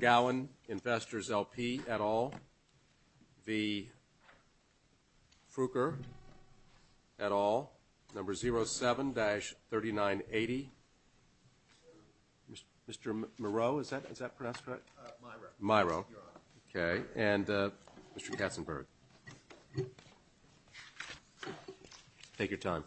Gowen Investors LP, et al. Frucheretal v. Frucheretal, et al., number 07-3980, Mr. Miro, and Mr. Katzenberg. Take your time.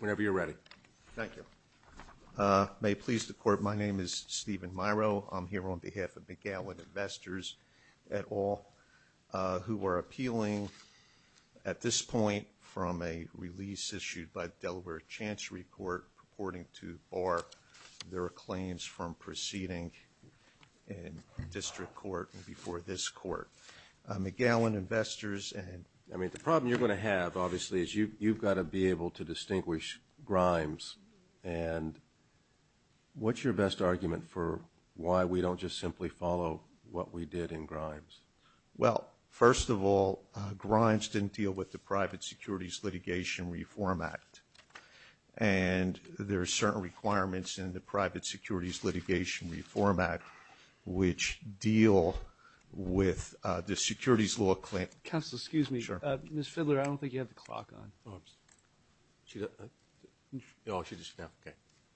Whenever you're ready. Thank you. May it please the court, my name is Stephen Miro. I'm here on behalf of McGowan Investors, et al., who are appealing at this point from a release issued by the Delaware Chancery Court purporting to bar their claims from proceeding in district court before this court. McGowan Investors and... I mean, the problem you're going to have, obviously, is you've got to be able to distinguish grimes, and what's your best argument for why we don't just simply follow what we did in grimes? Well, first of all, grimes didn't deal with the Private Securities Litigation Reform Act, and there are certain requirements in the Private Securities Litigation Reform Act which deal with the securities law claim... Counsel, excuse me. Sure. Ms. Fidler, I don't think you have the clock on.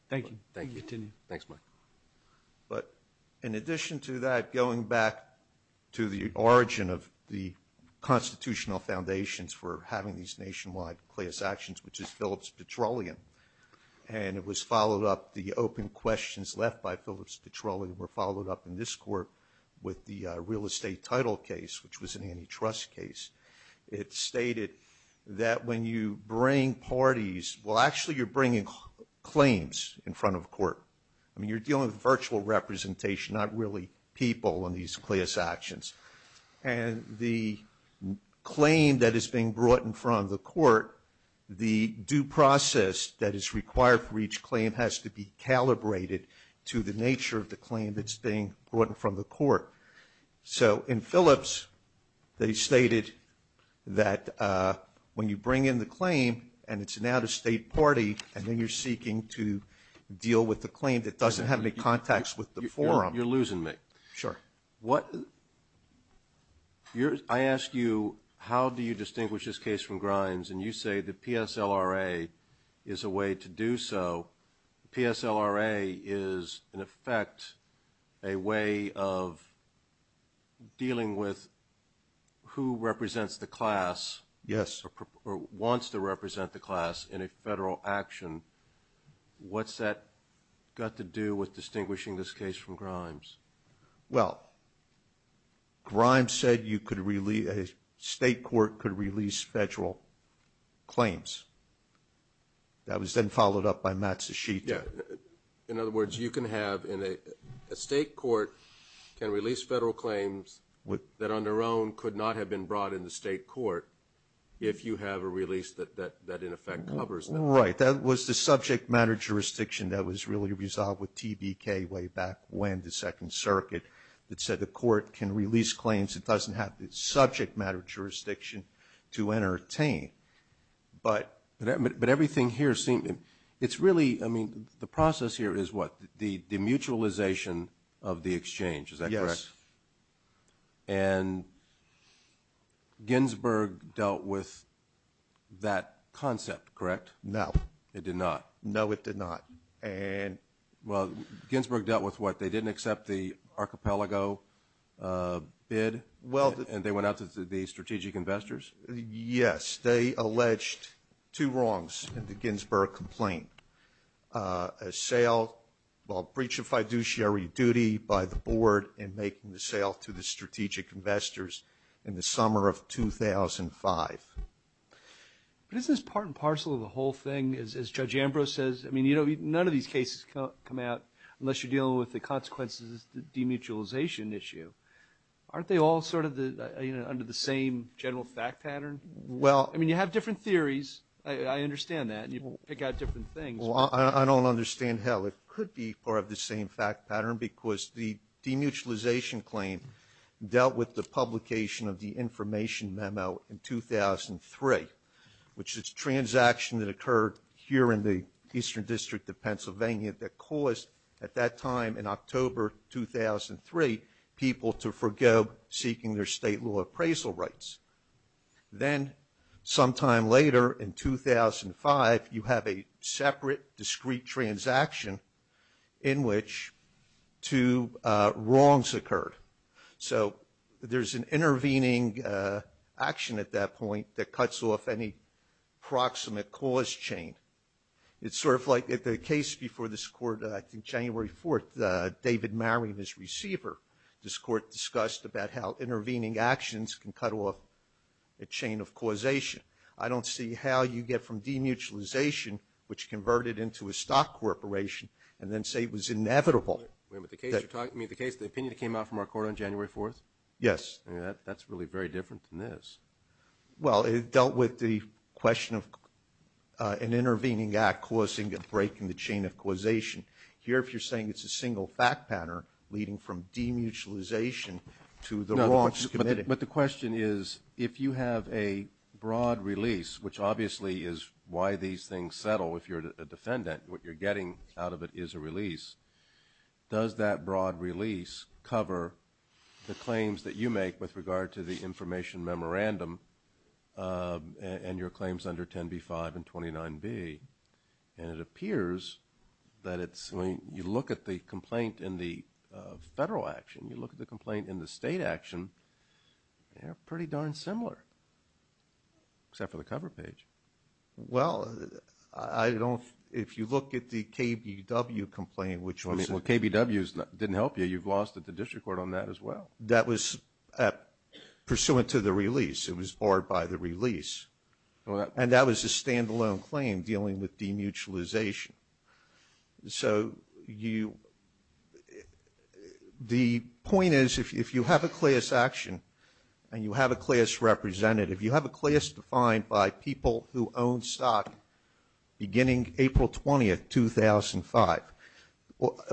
Thank you. Continue. Thanks, Mike. But in addition to that, going back to the origin of the constitutional foundations for having these nationwide class actions, which is Phillips Petroleum, and it was followed up, the open questions left by Phillips Petroleum were followed up in this court with the real estate title case, which was an antitrust case. It stated that when you bring parties... Well, actually, you're bringing claims in front of court. I mean, you're dealing with virtual representation, not really people in these class actions. And the claim that is being brought in front of the court, the due process that is required for each claim has to be calibrated So in Phillips, they stated that when you bring in the claim and it's an out-of-state party, and then you're seeking to deal with the claim that doesn't have any contacts with the forum. You're losing me. Sure. I ask you, how do you distinguish this case from Grimes? And you say the PSLRA is a way to do so. The PSLRA is, in effect, a way of dealing with who represents the class... Yes. ...or wants to represent the class in a federal action. What's that got to do with distinguishing this case from Grimes? Well, Grimes said a state court could release federal claims. That was then followed up by Matsushita. Yeah. In other words, you can have a state court can release federal claims that on their own could not have been brought in the state court if you have a release that, in effect, covers them. Right. That was the subject matter jurisdiction that was really resolved with TBK way back when, the Second Circuit, that said the court can release claims that doesn't have the subject matter jurisdiction to entertain. But everything here seems... It's really, I mean, the process here is what? The mutualization of the exchange. Is that correct? Yes. And Ginsburg dealt with that concept, correct? No. It did not? No, it did not. And... Well, Ginsburg dealt with what? They didn't accept the archipelago bid? Well... And they went out to the strategic investors? Yes. They alleged two wrongs in the Ginsburg complaint, a breach of fiduciary duty by the board in making the sale to the strategic investors in the summer of 2005. But isn't this part and parcel of the whole thing, as Judge Ambrose says? I mean, none of these cases come out, unless you're dealing with the consequences of the demutualization issue. Aren't they all sort of under the same general fact pattern? Well... I mean, you have different theories. I understand that. And you can pick out different things. Well, I don't understand how it could be part of the same fact pattern because the demutualization claim dealt with the publication of the information memo in 2003, which is a transaction that occurred here in the Eastern District of Pennsylvania that caused, at that time in October 2003, people to forgo seeking their state law appraisal rights. Then, sometime later in 2005, you have a separate discrete transaction in which two wrongs occurred. So there's an intervening action at that point that cuts off any proximate cause chain. It's sort of like the case before this court, I think January 4th, David Maring, his receiver, this court discussed about how intervening actions can cut off a chain of causation. I don't see how you get from demutualization, which converted into a stock corporation, and then say it was inevitable. Wait a minute. The case you're talking about, the opinion that came out from our court on January 4th? Yes. That's really very different than this. Well, it dealt with the question of an intervening act causing a break in the chain of causation. Here, if you're saying it's a single fact pattern leading from demutualization to the wrongs committed. But the question is, if you have a broad release, which obviously is why these things settle if you're a defendant, what you're getting out of it is a release. Does that broad release cover the claims that you make with regard to the information memorandum and your claims under 10b-5 and 29b? And it appears that it's, when you look at the complaint in the federal action, you look at the complaint in the state action, they're pretty darn similar, except for the cover page. Well, I don't, if you look at the KBW complaint, which was... Well, KBW didn't help you. You've lost at the district court on that as well. That was pursuant to the release. It was barred by the release. And that was a standalone claim dealing with demutualization. So you... The point is, if you have a CLIAS action and you have a CLIAS representative, you have a CLIAS defined by people who own stock beginning April 20, 2005.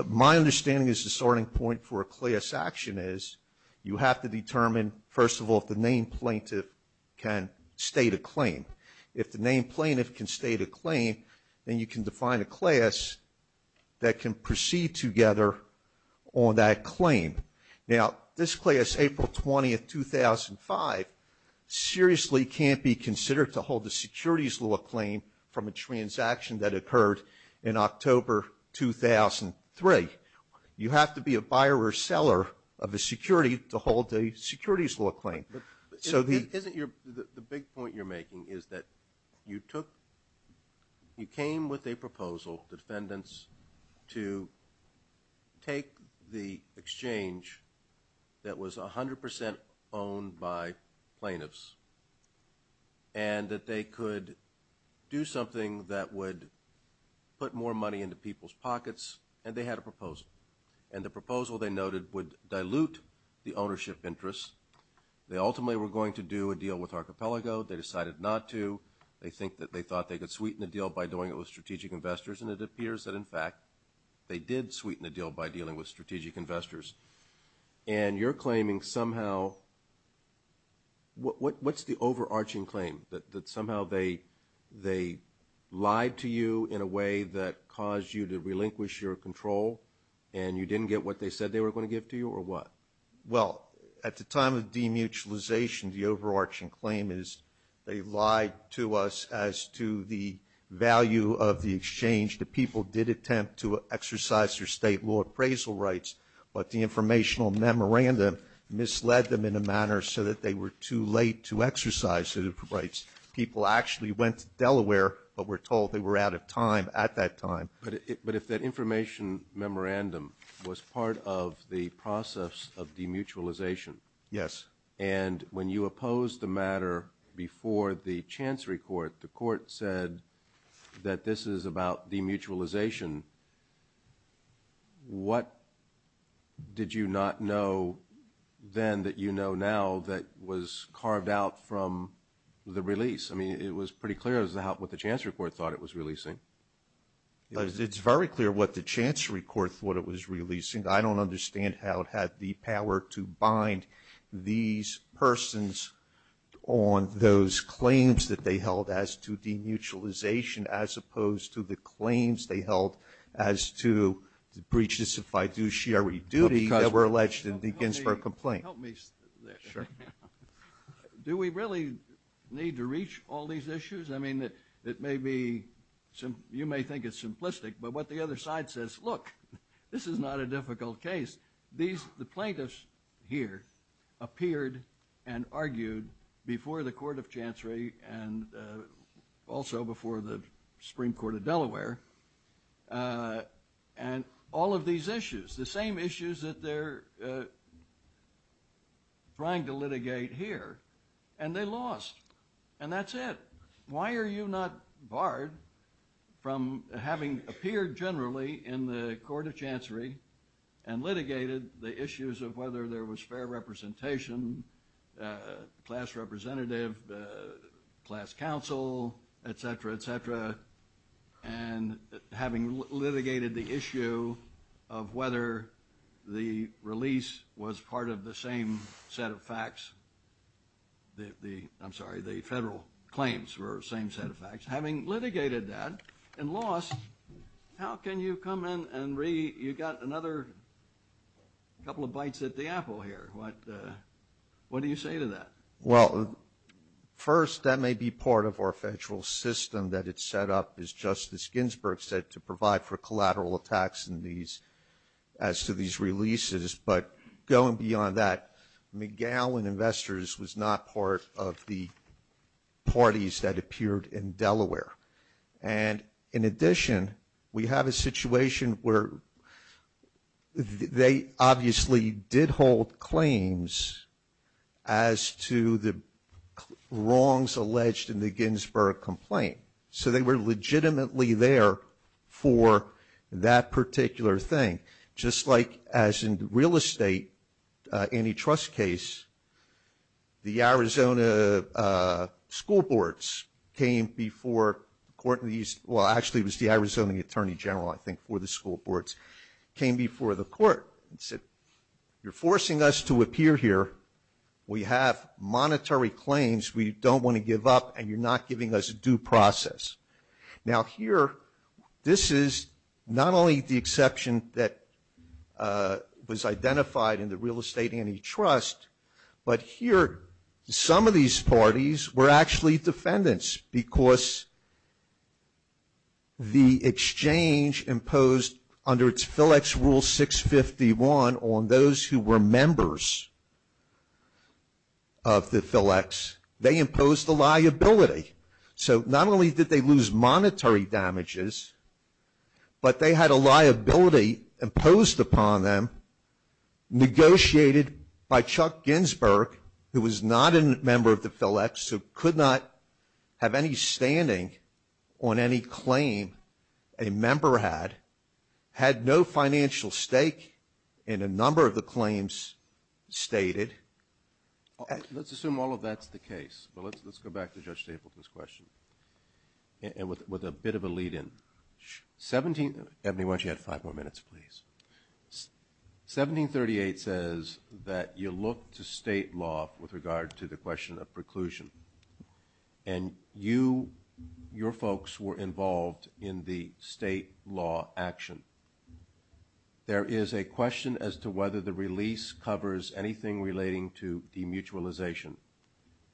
My understanding is the starting point for a CLIAS action is you have to determine, first of all, if the named plaintiff can state a claim. If the named plaintiff can state a claim, then you can define a CLIAS that can proceed together on that claim. Now, this CLIAS, April 20, 2005, seriously can't be considered to hold the securities law claim from a transaction that occurred in October 2003. You have to be a buyer or seller of a security to hold a securities law claim. So the... Isn't your... The big point you're making is that you took... You came with a proposal to defendants to take the exchange that was 100% owned by plaintiffs and that they could do something that would put more money into people's pockets, and they had a proposal. And the proposal, they noted, would dilute the ownership interest. They ultimately were going to do a deal with Archipelago. They decided not to. They think that they thought they could sweeten the deal by doing it with strategic investors, and it appears that, in fact, they did sweeten the deal by dealing with strategic investors. And you're claiming somehow... What's the overarching claim? That somehow they lied to you in a way that caused you to relinquish your control and you didn't get what they said they were going to give to you, or what? Well, at the time of demutualization, the overarching claim is they lied to us as to the value of the exchange. The people did attempt to exercise their state law appraisal rights, but the informational memorandum misled them in a manner so that they were too late to exercise their rights. People actually went to Delaware but were told they were out of time at that time. But if that information memorandum was part of the process of demutualization... Yes. ...and when you opposed the matter before the Chancery Court, the court said that this is about demutualization, what did you not know then that you know now that was carved out from the release? I mean, it was pretty clear what the Chancery Court thought it was releasing. It's very clear what the Chancery Court thought it was releasing. I don't understand how it had the power to bind these persons on those claims that they held as to demutualization as opposed to the claims they held as to the breach of fiduciary duty that were alleged in the Ginsburg complaint. Help me. Sure. Do we really need to reach all these issues? I mean, it may be... You may think it's simplistic, but what the other side says, look, this is not a difficult case. The plaintiffs here appeared and argued before the Court of Chancery and also before the Supreme Court of Delaware and all of these issues, the same issues that they're trying to litigate here, and they lost, and that's it. Why are you not barred from having appeared generally in the Court of Chancery and litigated the issues of whether there was fair representation, class representative, class counsel, et cetera, et cetera, and having litigated the issue of whether the release was part of the same set of facts, I'm sorry, the federal claims were the same set of facts. Having litigated that and lost, how can you come in and re... You got another couple of bites at the apple here. What do you say to that? Well, first, that may be part of our federal system that it's set up, as Justice Ginsburg said, to provide for collateral attacks as to these releases, but going beyond that, McGowan Investors was not part of the parties that appeared in Delaware. And in addition, we have a situation where they obviously did hold claims as to the wrongs alleged in the Ginsburg complaint, so they were legitimately there for that particular thing. Just like as in real estate antitrust case, the Arizona school boards came before the Court of... Well, actually, it was the Arizona Attorney General, I think, for the school boards, came before the court and said, you're forcing us to appear here. We have monetary claims. We don't want to give up, and you're not giving us a due process. Now, here, this is not only the exception that was identified in the real estate antitrust, but here, some of these parties were actually defendants because the exchange imposed under its FLEX Rule 651 on those who were members of the FLEX, they imposed a liability. So not only did they lose monetary damages, but they had a liability imposed upon them, negotiated by Chuck Ginsburg, who was not a member of the FLEX, who could not have any standing on any claim a member had, had no financial stake in a number of the claims stated. Let's assume all of that's the case. Well, let's go back to Judge Stapleton's question, and with a bit of a lead-in. Ebony, why don't you add five more minutes, please? 1738 says that you look to state law with regard to the question of preclusion, and you, your folks were involved in the state law action. There is a question as to whether the release covers anything relating to demutualization.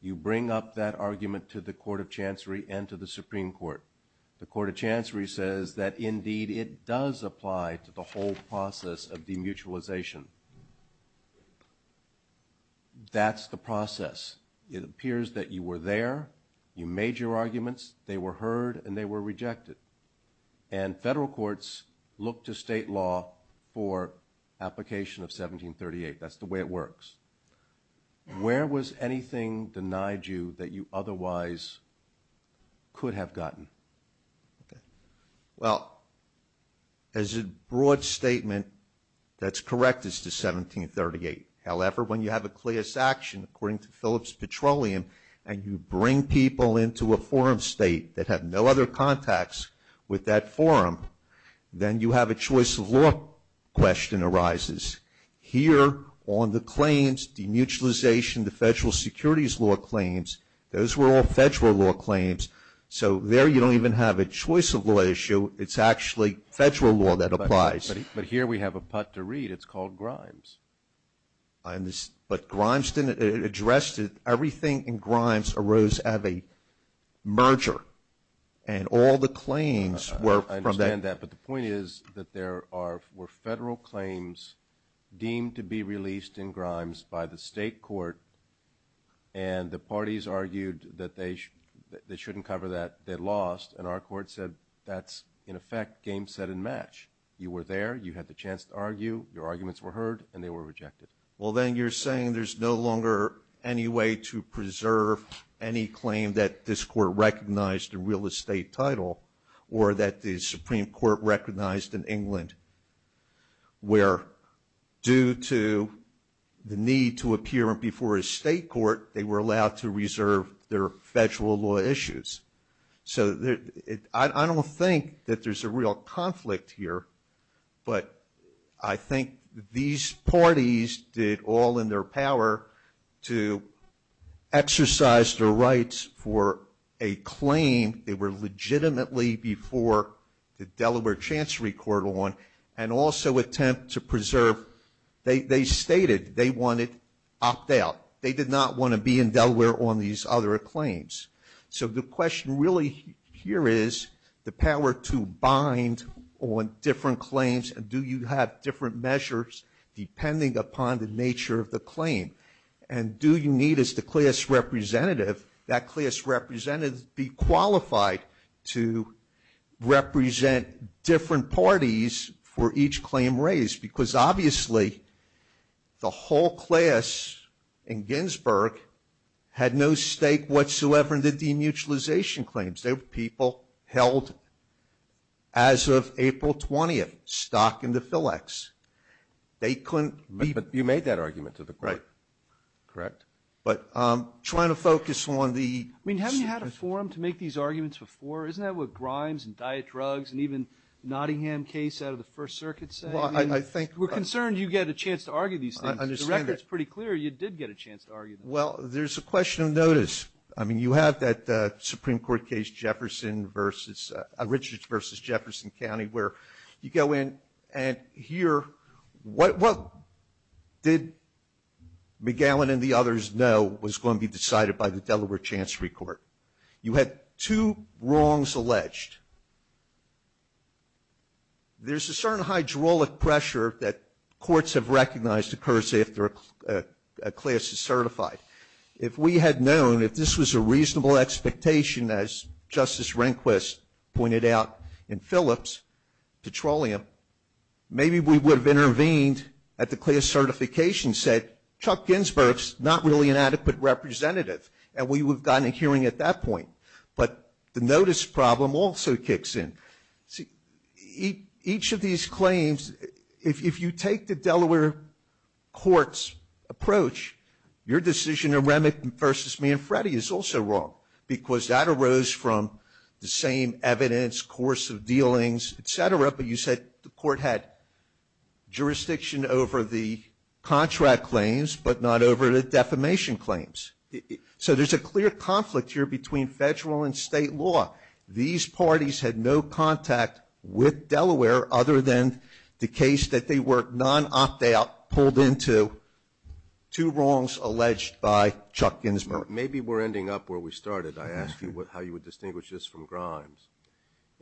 You bring up that argument to the Court of Chancery and to the Supreme Court. The Court of Chancery says that, indeed, it does apply to the whole process of demutualization. That's the process. It appears that you were there, you made your arguments, they were heard, and they were rejected. And federal courts look to state law for application of 1738. That's the way it works. Where was anything denied you that you otherwise could have gotten? Well, as a broad statement, that's correct as to 1738. However, when you have a clear sanction, according to Phillips Petroleum, and you bring people into a forum state that have no other contacts with that forum, then you have a choice of law question arises. Here, on the claims, demutualization, the federal securities law claims, those were all federal law claims, so there you don't even have a choice of law issue. It's actually federal law that applies. But here we have a putt to read. It's called Grimes. But Grimes didn't address it. Everything in Grimes arose out of a merger, and all the claims were from that. I understand that, but the point is that there were federal claims deemed to be released in Grimes by the state court, and the parties argued that they shouldn't cover that. They lost, and our court said, that's, in effect, game, set, and match. You were there. You had the chance to argue. Your arguments were heard, and they were rejected. Well, then you're saying there's no longer any way to preserve any claim that this court recognized a real estate title or that the Supreme Court recognized in England where due to the need to appear before a state court, they were allowed to reserve their federal law issues. So I don't think that there's a real conflict here, but I think these parties did all in their power to exercise their rights for a claim. They were legitimately before the Delaware Chancery Court on, and also attempt to preserve. They stated they wanted opt-out. They did not want to be in Delaware on these other claims. So the question really here is the power to bind on different claims, and do you have different measures depending upon the nature of the claim, and do you need, as the CLIA's representative, that CLIA's representative be qualified to represent different parties for each claim raised? Because obviously the whole CLIA's in Ginsburg had no stake whatsoever in the demutualization claims. They were people held as of April 20th stock in the FILEX. They couldn't be. But you made that argument to the court. Right. Correct. But trying to focus on the. I mean, haven't you had a forum to make these arguments before? Isn't that what Grimes and Dietrugs and even Nottingham case out of the First Circuit said? Well, I think. We're concerned you get a chance to argue these things. I understand that. The record's pretty clear you did get a chance to argue them. Well, there's a question of notice. I mean, you have that Supreme Court case, Jefferson versus, Richards versus Jefferson County, where you go in and hear what did McGowan and the others know was going to be decided by the Delaware Chancery Court. You had two wrongs alleged. There's a certain hydraulic pressure that courts have recognized occurs after a CLIA is certified. If we had known, if this was a reasonable expectation, as Justice Rehnquist pointed out in Phillips, petroleum, maybe we would have intervened at the CLIA certification set. Chuck Ginsberg's not really an adequate representative, and we would have gotten a hearing at that point. But the notice problem also kicks in. See, each of these claims, if you take the Delaware court's approach, your decision in Remington versus Manfredi is also wrong because that arose from the same evidence, course of dealings, et cetera, but you said the court had jurisdiction over the contract claims but not over the defamation claims. So there's a clear conflict here between federal and state law. These parties had no contact with Delaware other than the case that they were non-opt-out, pulled into, two wrongs alleged by Chuck Ginsberg. Maybe we're ending up where we started. I asked you how you would distinguish this from Grimes,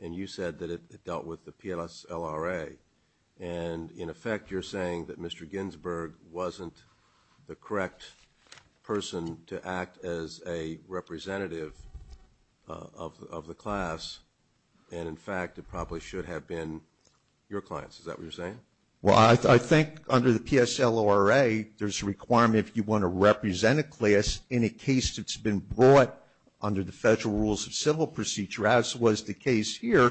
and you said that it dealt with the PLS LRA. And, in effect, you're saying that Mr. Ginsberg wasn't the correct person to act as a representative of the class, and, in fact, Is that what you're saying? Well, I think under the PSL LRA there's a requirement if you want to represent a class in a case that's been brought under the federal rules of civil procedure, as was the case here,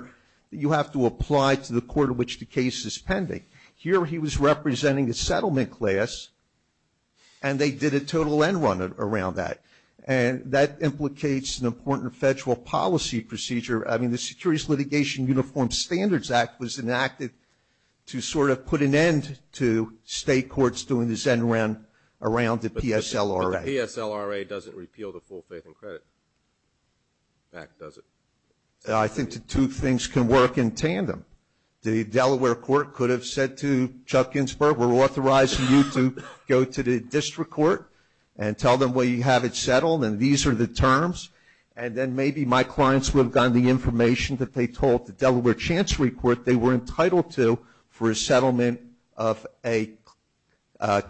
that you have to apply to the court of which the case is pending. Here he was representing a settlement class, and they did a total end run around that. And that implicates an important federal policy procedure. I mean, the Securities Litigation Uniform Standards Act was enacted to sort of put an end to state courts doing this end run around the PSL LRA. But the PSL LRA doesn't repeal the Full Faith and Credit Act, does it? I think the two things can work in tandem. The Delaware court could have said to Chuck Ginsberg, we're authorizing you to go to the district court and tell them, well, you have it settled, and these are the terms. And then maybe my clients would have gotten the information that they told the Delaware chance report they were entitled to for a settlement of a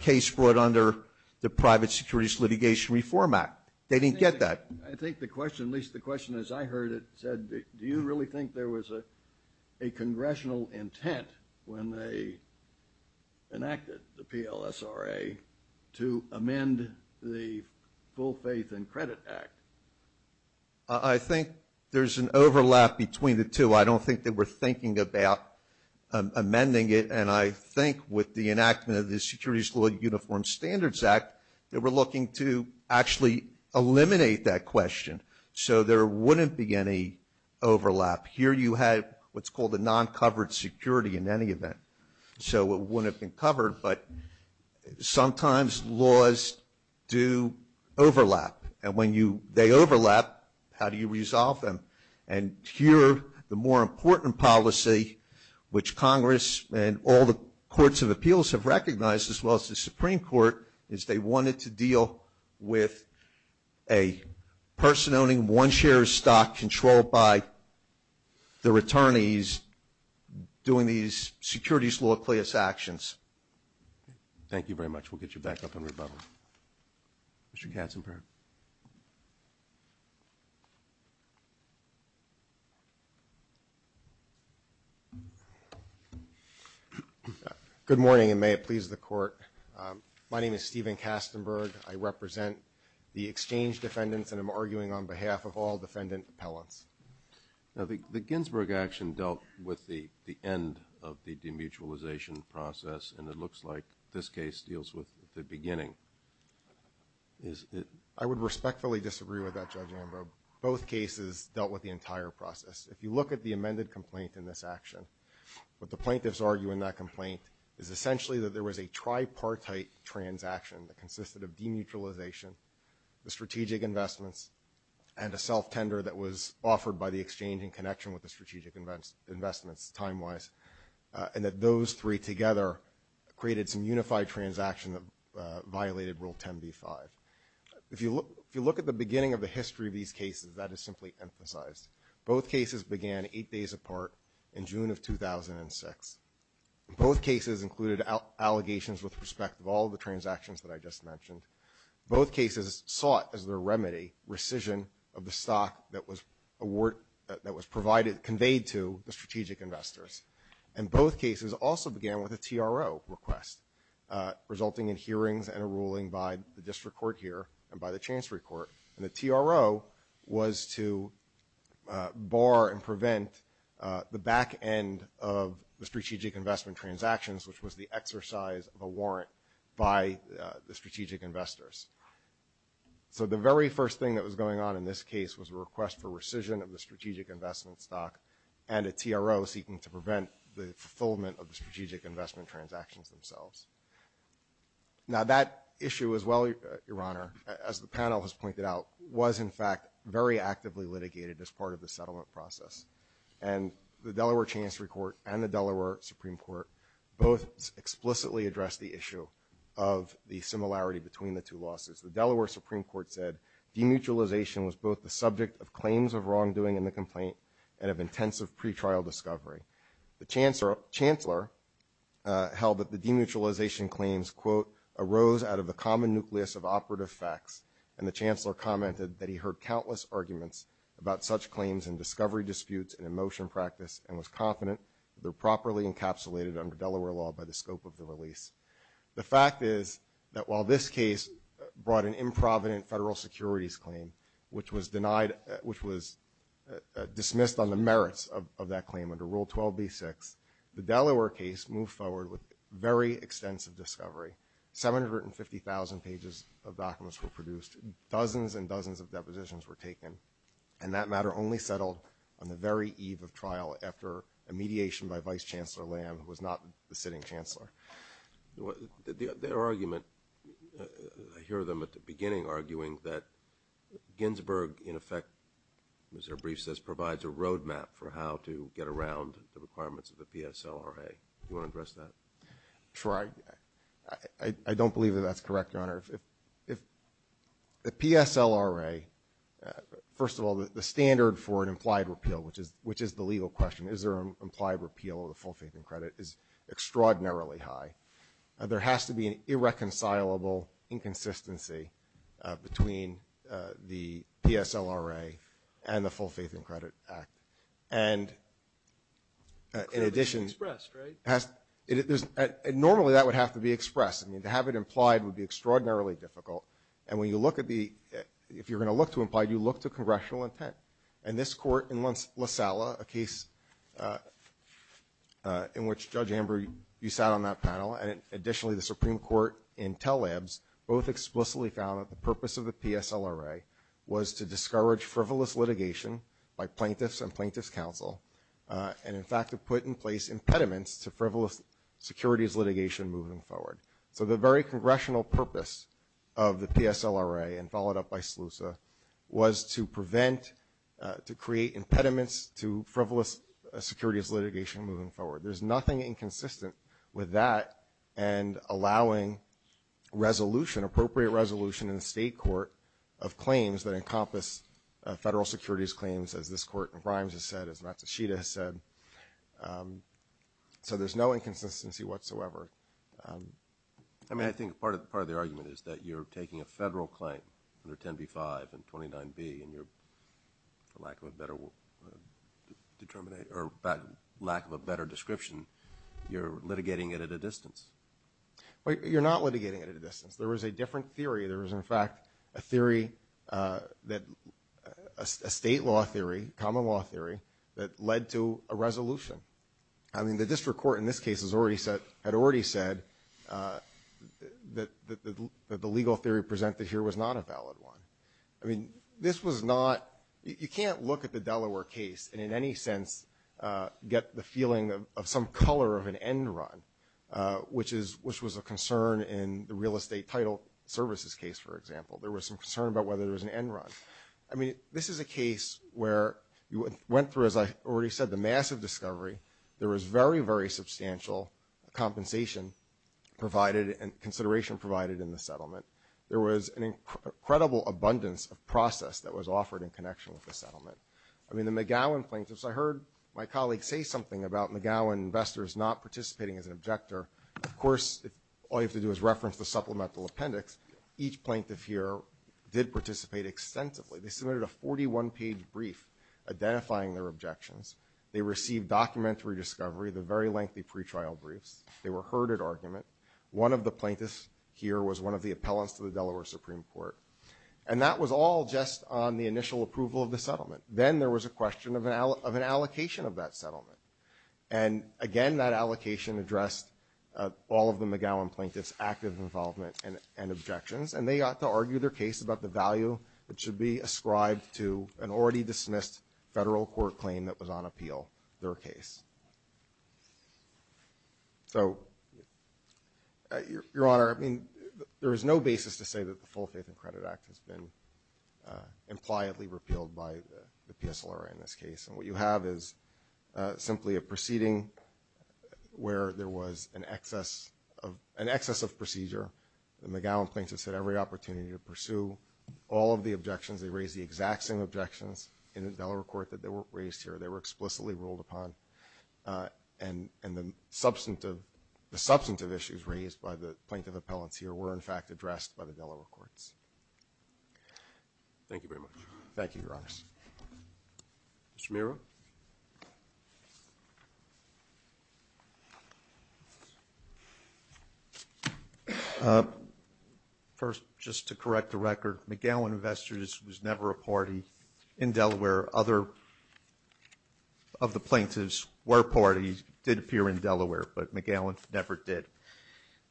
case brought under the Private Securities Litigation Reform Act. They didn't get that. I think the question, at least the question as I heard it, said do you really think there was a congressional intent when they enacted the I think there's an overlap between the two. I don't think they were thinking about amending it. And I think with the enactment of the Securities Law Uniform Standards Act, they were looking to actually eliminate that question. So there wouldn't be any overlap. Here you have what's called a non-covered security in any event. So it wouldn't have been covered. But sometimes laws do overlap. And when they overlap, how do you resolve them? And here the more important policy, which Congress and all the courts of appeals have recognized, as well as the Supreme Court, is they wanted to deal with a person owning one share of stock controlled by their attorneys doing these securities law class actions. We'll get you back up and rebuttal. Mr. Katzenberg. Good morning, and may it please the Court. My name is Steven Katzenberg. I represent the exchange defendants, and I'm arguing on behalf of all defendant appellants. The Ginsburg action dealt with the end of the demutualization process, and it looks like this case deals with the beginning. I would respectfully disagree with that, Judge Ambrose. Both cases dealt with the entire process. If you look at the amended complaint in this action, what the plaintiffs argue in that complaint is essentially that there was a tripartite transaction that consisted of demutualization, the strategic investments, and a self-tender that was offered by the exchange in connection with the strategic investments time-wise, and that those three together created some unified transaction that violated Rule 10b-5. If you look at the beginning of the history of these cases, that is simply emphasized. Both cases began eight days apart in June of 2006. Both cases included allegations with respect of all the transactions that I just mentioned. Both cases sought as their remedy rescission of the stock that was provided, conveyed to the strategic investors. And both cases also began with a TRO request, resulting in hearings and a ruling by the district court here and by the chancery court. And the TRO was to bar and prevent the back end of the strategic investment transactions, which was the exercise of a warrant by the strategic investors. So the very first thing that was going on in this case was a request for a strategic investment stock and a TRO seeking to prevent the fulfillment of the strategic investment transactions themselves. Now that issue as well, Your Honor, as the panel has pointed out, was in fact very actively litigated as part of the settlement process. And the Delaware Chancery Court and the Delaware Supreme Court both explicitly addressed the issue of the similarity between the two losses. The Delaware Supreme Court said demutualization was both the subject of intensive pretrial discovery. The chancellor held that the demutualization claims, quote, arose out of the common nucleus of operative facts. And the chancellor commented that he heard countless arguments about such claims and discovery disputes and emotion practice and was confident they're properly encapsulated under Delaware law by the scope of the release. The fact is that while this case brought an improvident federal securities claim, which was denied, which was dismissed on the merits of that claim under Rule 12B6, the Delaware case moved forward with very extensive discovery. 750,000 pages of documents were produced. Dozens and dozens of depositions were taken. And that matter only settled on the very eve of trial after a mediation by Vice Chancellor Lamb, who was not the sitting chancellor. Their argument, I hear them at the beginning arguing that Ginsburg, in effect, as their brief says, provides a roadmap for how to get around the requirements of the PSLRA. Do you want to address that? Sure. I don't believe that that's correct, Your Honor. If the PSLRA, first of all, the standard for an implied repeal, which is the legal question, is there an implied repeal of the full faith and credit is extraordinarily high. There has to be an irreconcilable inconsistency between the PSLRA and the full faith and credit act. And in addition, normally that would have to be expressed. I mean, to have it implied would be extraordinarily difficult. And when you look at the, if you're going to look to imply, you look to congressional intent. And this court in La Sala, a case in which Judge Amber, you sat on that panel. And additionally, the Supreme court in tell labs both explicitly found that the purpose of the PSLRA was to discourage frivolous litigation by plaintiffs and plaintiffs counsel. And in fact, to put in place impediments to frivolous securities litigation moving forward. So the very congressional purpose of the PSLRA and followed up by Slusa was to prevent, to create impediments to frivolous securities litigation moving forward. There's nothing inconsistent with that and allowing resolution, appropriate resolution in the state court of claims that encompass federal securities claims. As this court in Grimes has said, it's not to Sheeta has said. So there's no inconsistency whatsoever. I mean, I think part of the part of the argument is that you're taking a federal claim under 10 B five and 29 B and you're for lack of a better determinate or lack of a better description. You're litigating it at a distance, but you're not litigating it at a distance. There was a different theory. There was in fact a theory that a state law theory, common law theory that led to a resolution. I mean the district court in this case has already said, had already said that the, that the legal theory presented here was not a valid one. I mean, this was not, you can't look at the Delaware case and in any sense get the feeling of some color of an end run, which is, which was a concern in the real estate title services case. For example, there was some concern about whether there was an end run. I mean, this is a case where you went through, as I already said, the massive discovery, there was very, very substantial compensation provided and consideration provided in the settlement. There was an incredible abundance of process that was offered in connection with the settlement. I mean, the McGowan plaintiffs, I heard my colleagues say something about McGowan investors not participating as an objector. Of course, all you have to do is reference the supplemental appendix. Each plaintiff here did participate extensively. They submitted a 41 page brief identifying their objections. They received documentary discovery, the very lengthy pretrial briefs. They were heard at argument. One of the plaintiffs here was one of the appellants to the Delaware Supreme Court. And that was all just on the initial approval of the settlement. Then there was a question of an, of an allocation of that settlement. And again, that allocation addressed all of the McGowan plaintiffs, active involvement and, and objections. And they ought to argue their case about the value that should be ascribed to an already dismissed federal court claim that was on appeal, their case. So your, your honor, I mean, there is no basis to say that the full faith and credit act has been, uh, impliedly repealed by the PSLR in this case. And what you have is, uh, simply a proceeding where there was an excess of an excess of procedure. The McGowan plaintiffs had every opportunity to pursue all of the objections. They raised the exact same objections in the Delaware court that they were raised here. They were explicitly ruled upon, uh, and, and the substantive, the substantive issues raised by the plaintiff appellants here were in fact addressed by the Delaware courts. Thank you very much. Thank you. Your honor. Mr. Miro. Uh, first, just to correct the record, McGowan investors was never a party in Delaware. Other of the plaintiffs were parties, did appear in Delaware, but McGowan never did,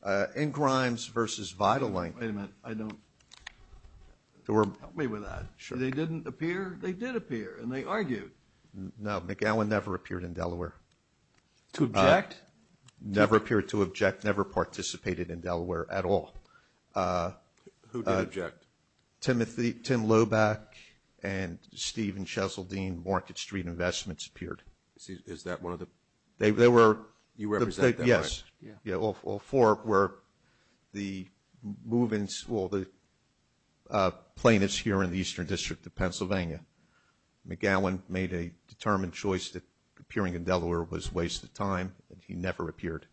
uh, in Grimes versus Vitalink. Wait a minute. I don't, help me with that. Sure. They didn't appear. They did appear and they argued. No, McGowan never appeared in Delaware. To object? Never appeared to object, never participated in Delaware at all. Uh, who did object? Timothy, Tim Loback, and Stephen Chesildine, Market Street Investments appeared. Is, is that one of the? They, they were. You represent them, right? Yes. Yeah. Yeah. All, all four were the moving, well, the, uh, plaintiffs here in the Eastern District of Pennsylvania. McGowan made a determined choice that appearing in Delaware was a waste of time, and he never appeared.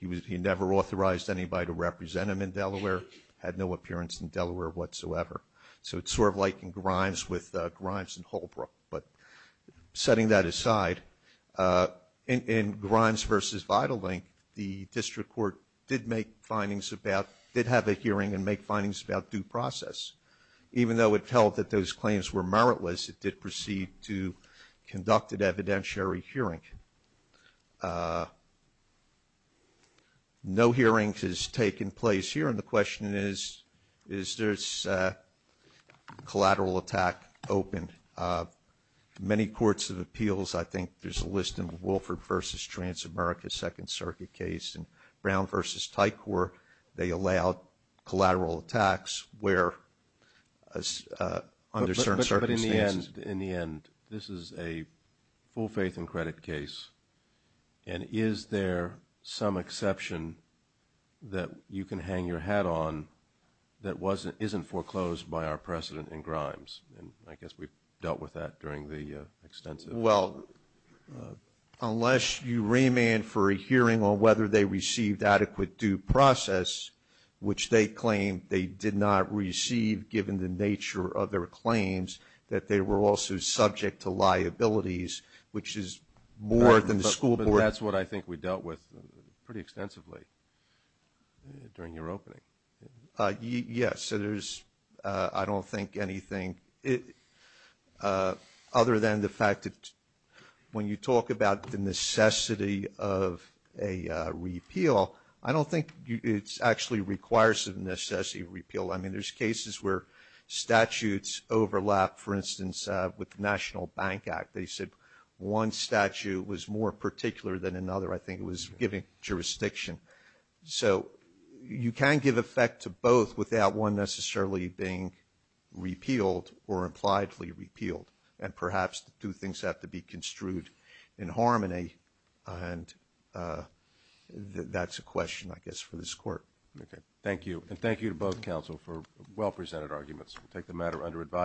He was, he never authorized anybody to represent him in Delaware, had no appearance in Delaware whatsoever. So, it's sort of like in Grimes with, uh, Grimes and Holbrook. But, setting that aside, uh, in, in Grimes versus Vitalink, the district court did make findings about, did have a hearing and make findings about due process. Even though it felt that those claims were meritless, it did proceed to conduct an evidentiary hearing. Uh, no hearings has taken place here, and the question is, is this, uh, collateral attack open? Uh, many courts of appeals, I think there's a list in Wilford versus Transamerica Second Circuit case, and Brown versus Tycor, they allow collateral attacks where, uh, under certain circumstances. But, but, but in the end, in the end, this is a full faith and credit case, and is there some exception that you can hang your hat on that wasn't, isn't foreclosed by our precedent in Grimes? And, I guess we've dealt with that during the, uh, extensive. Well, uh, unless you remand for a hearing on whether they received adequate due process, which they claim they did not receive given the nature of their claims, that they were also subject to liabilities, which is more than the school board. But, but that's what I think we dealt with pretty extensively during your opening. Uh, yes. So there's, uh, I don't think anything, uh, other than the fact that when you talk about the necessity of a, uh, repeal, I don't think it's actually requires a necessity repeal. I mean, there's cases where statutes overlap, for instance, uh, with the National Bank Act. They said one statute was more particular than another. I think it was giving jurisdiction. So, you can give effect to both without one necessarily being repealed or impliedly repealed. And perhaps the two things have to be construed in harmony. And, uh, that's a question, I guess, for this court. Okay. Thank you. And thank you to both counsel for well presented arguments. We'll take the matter under advisement.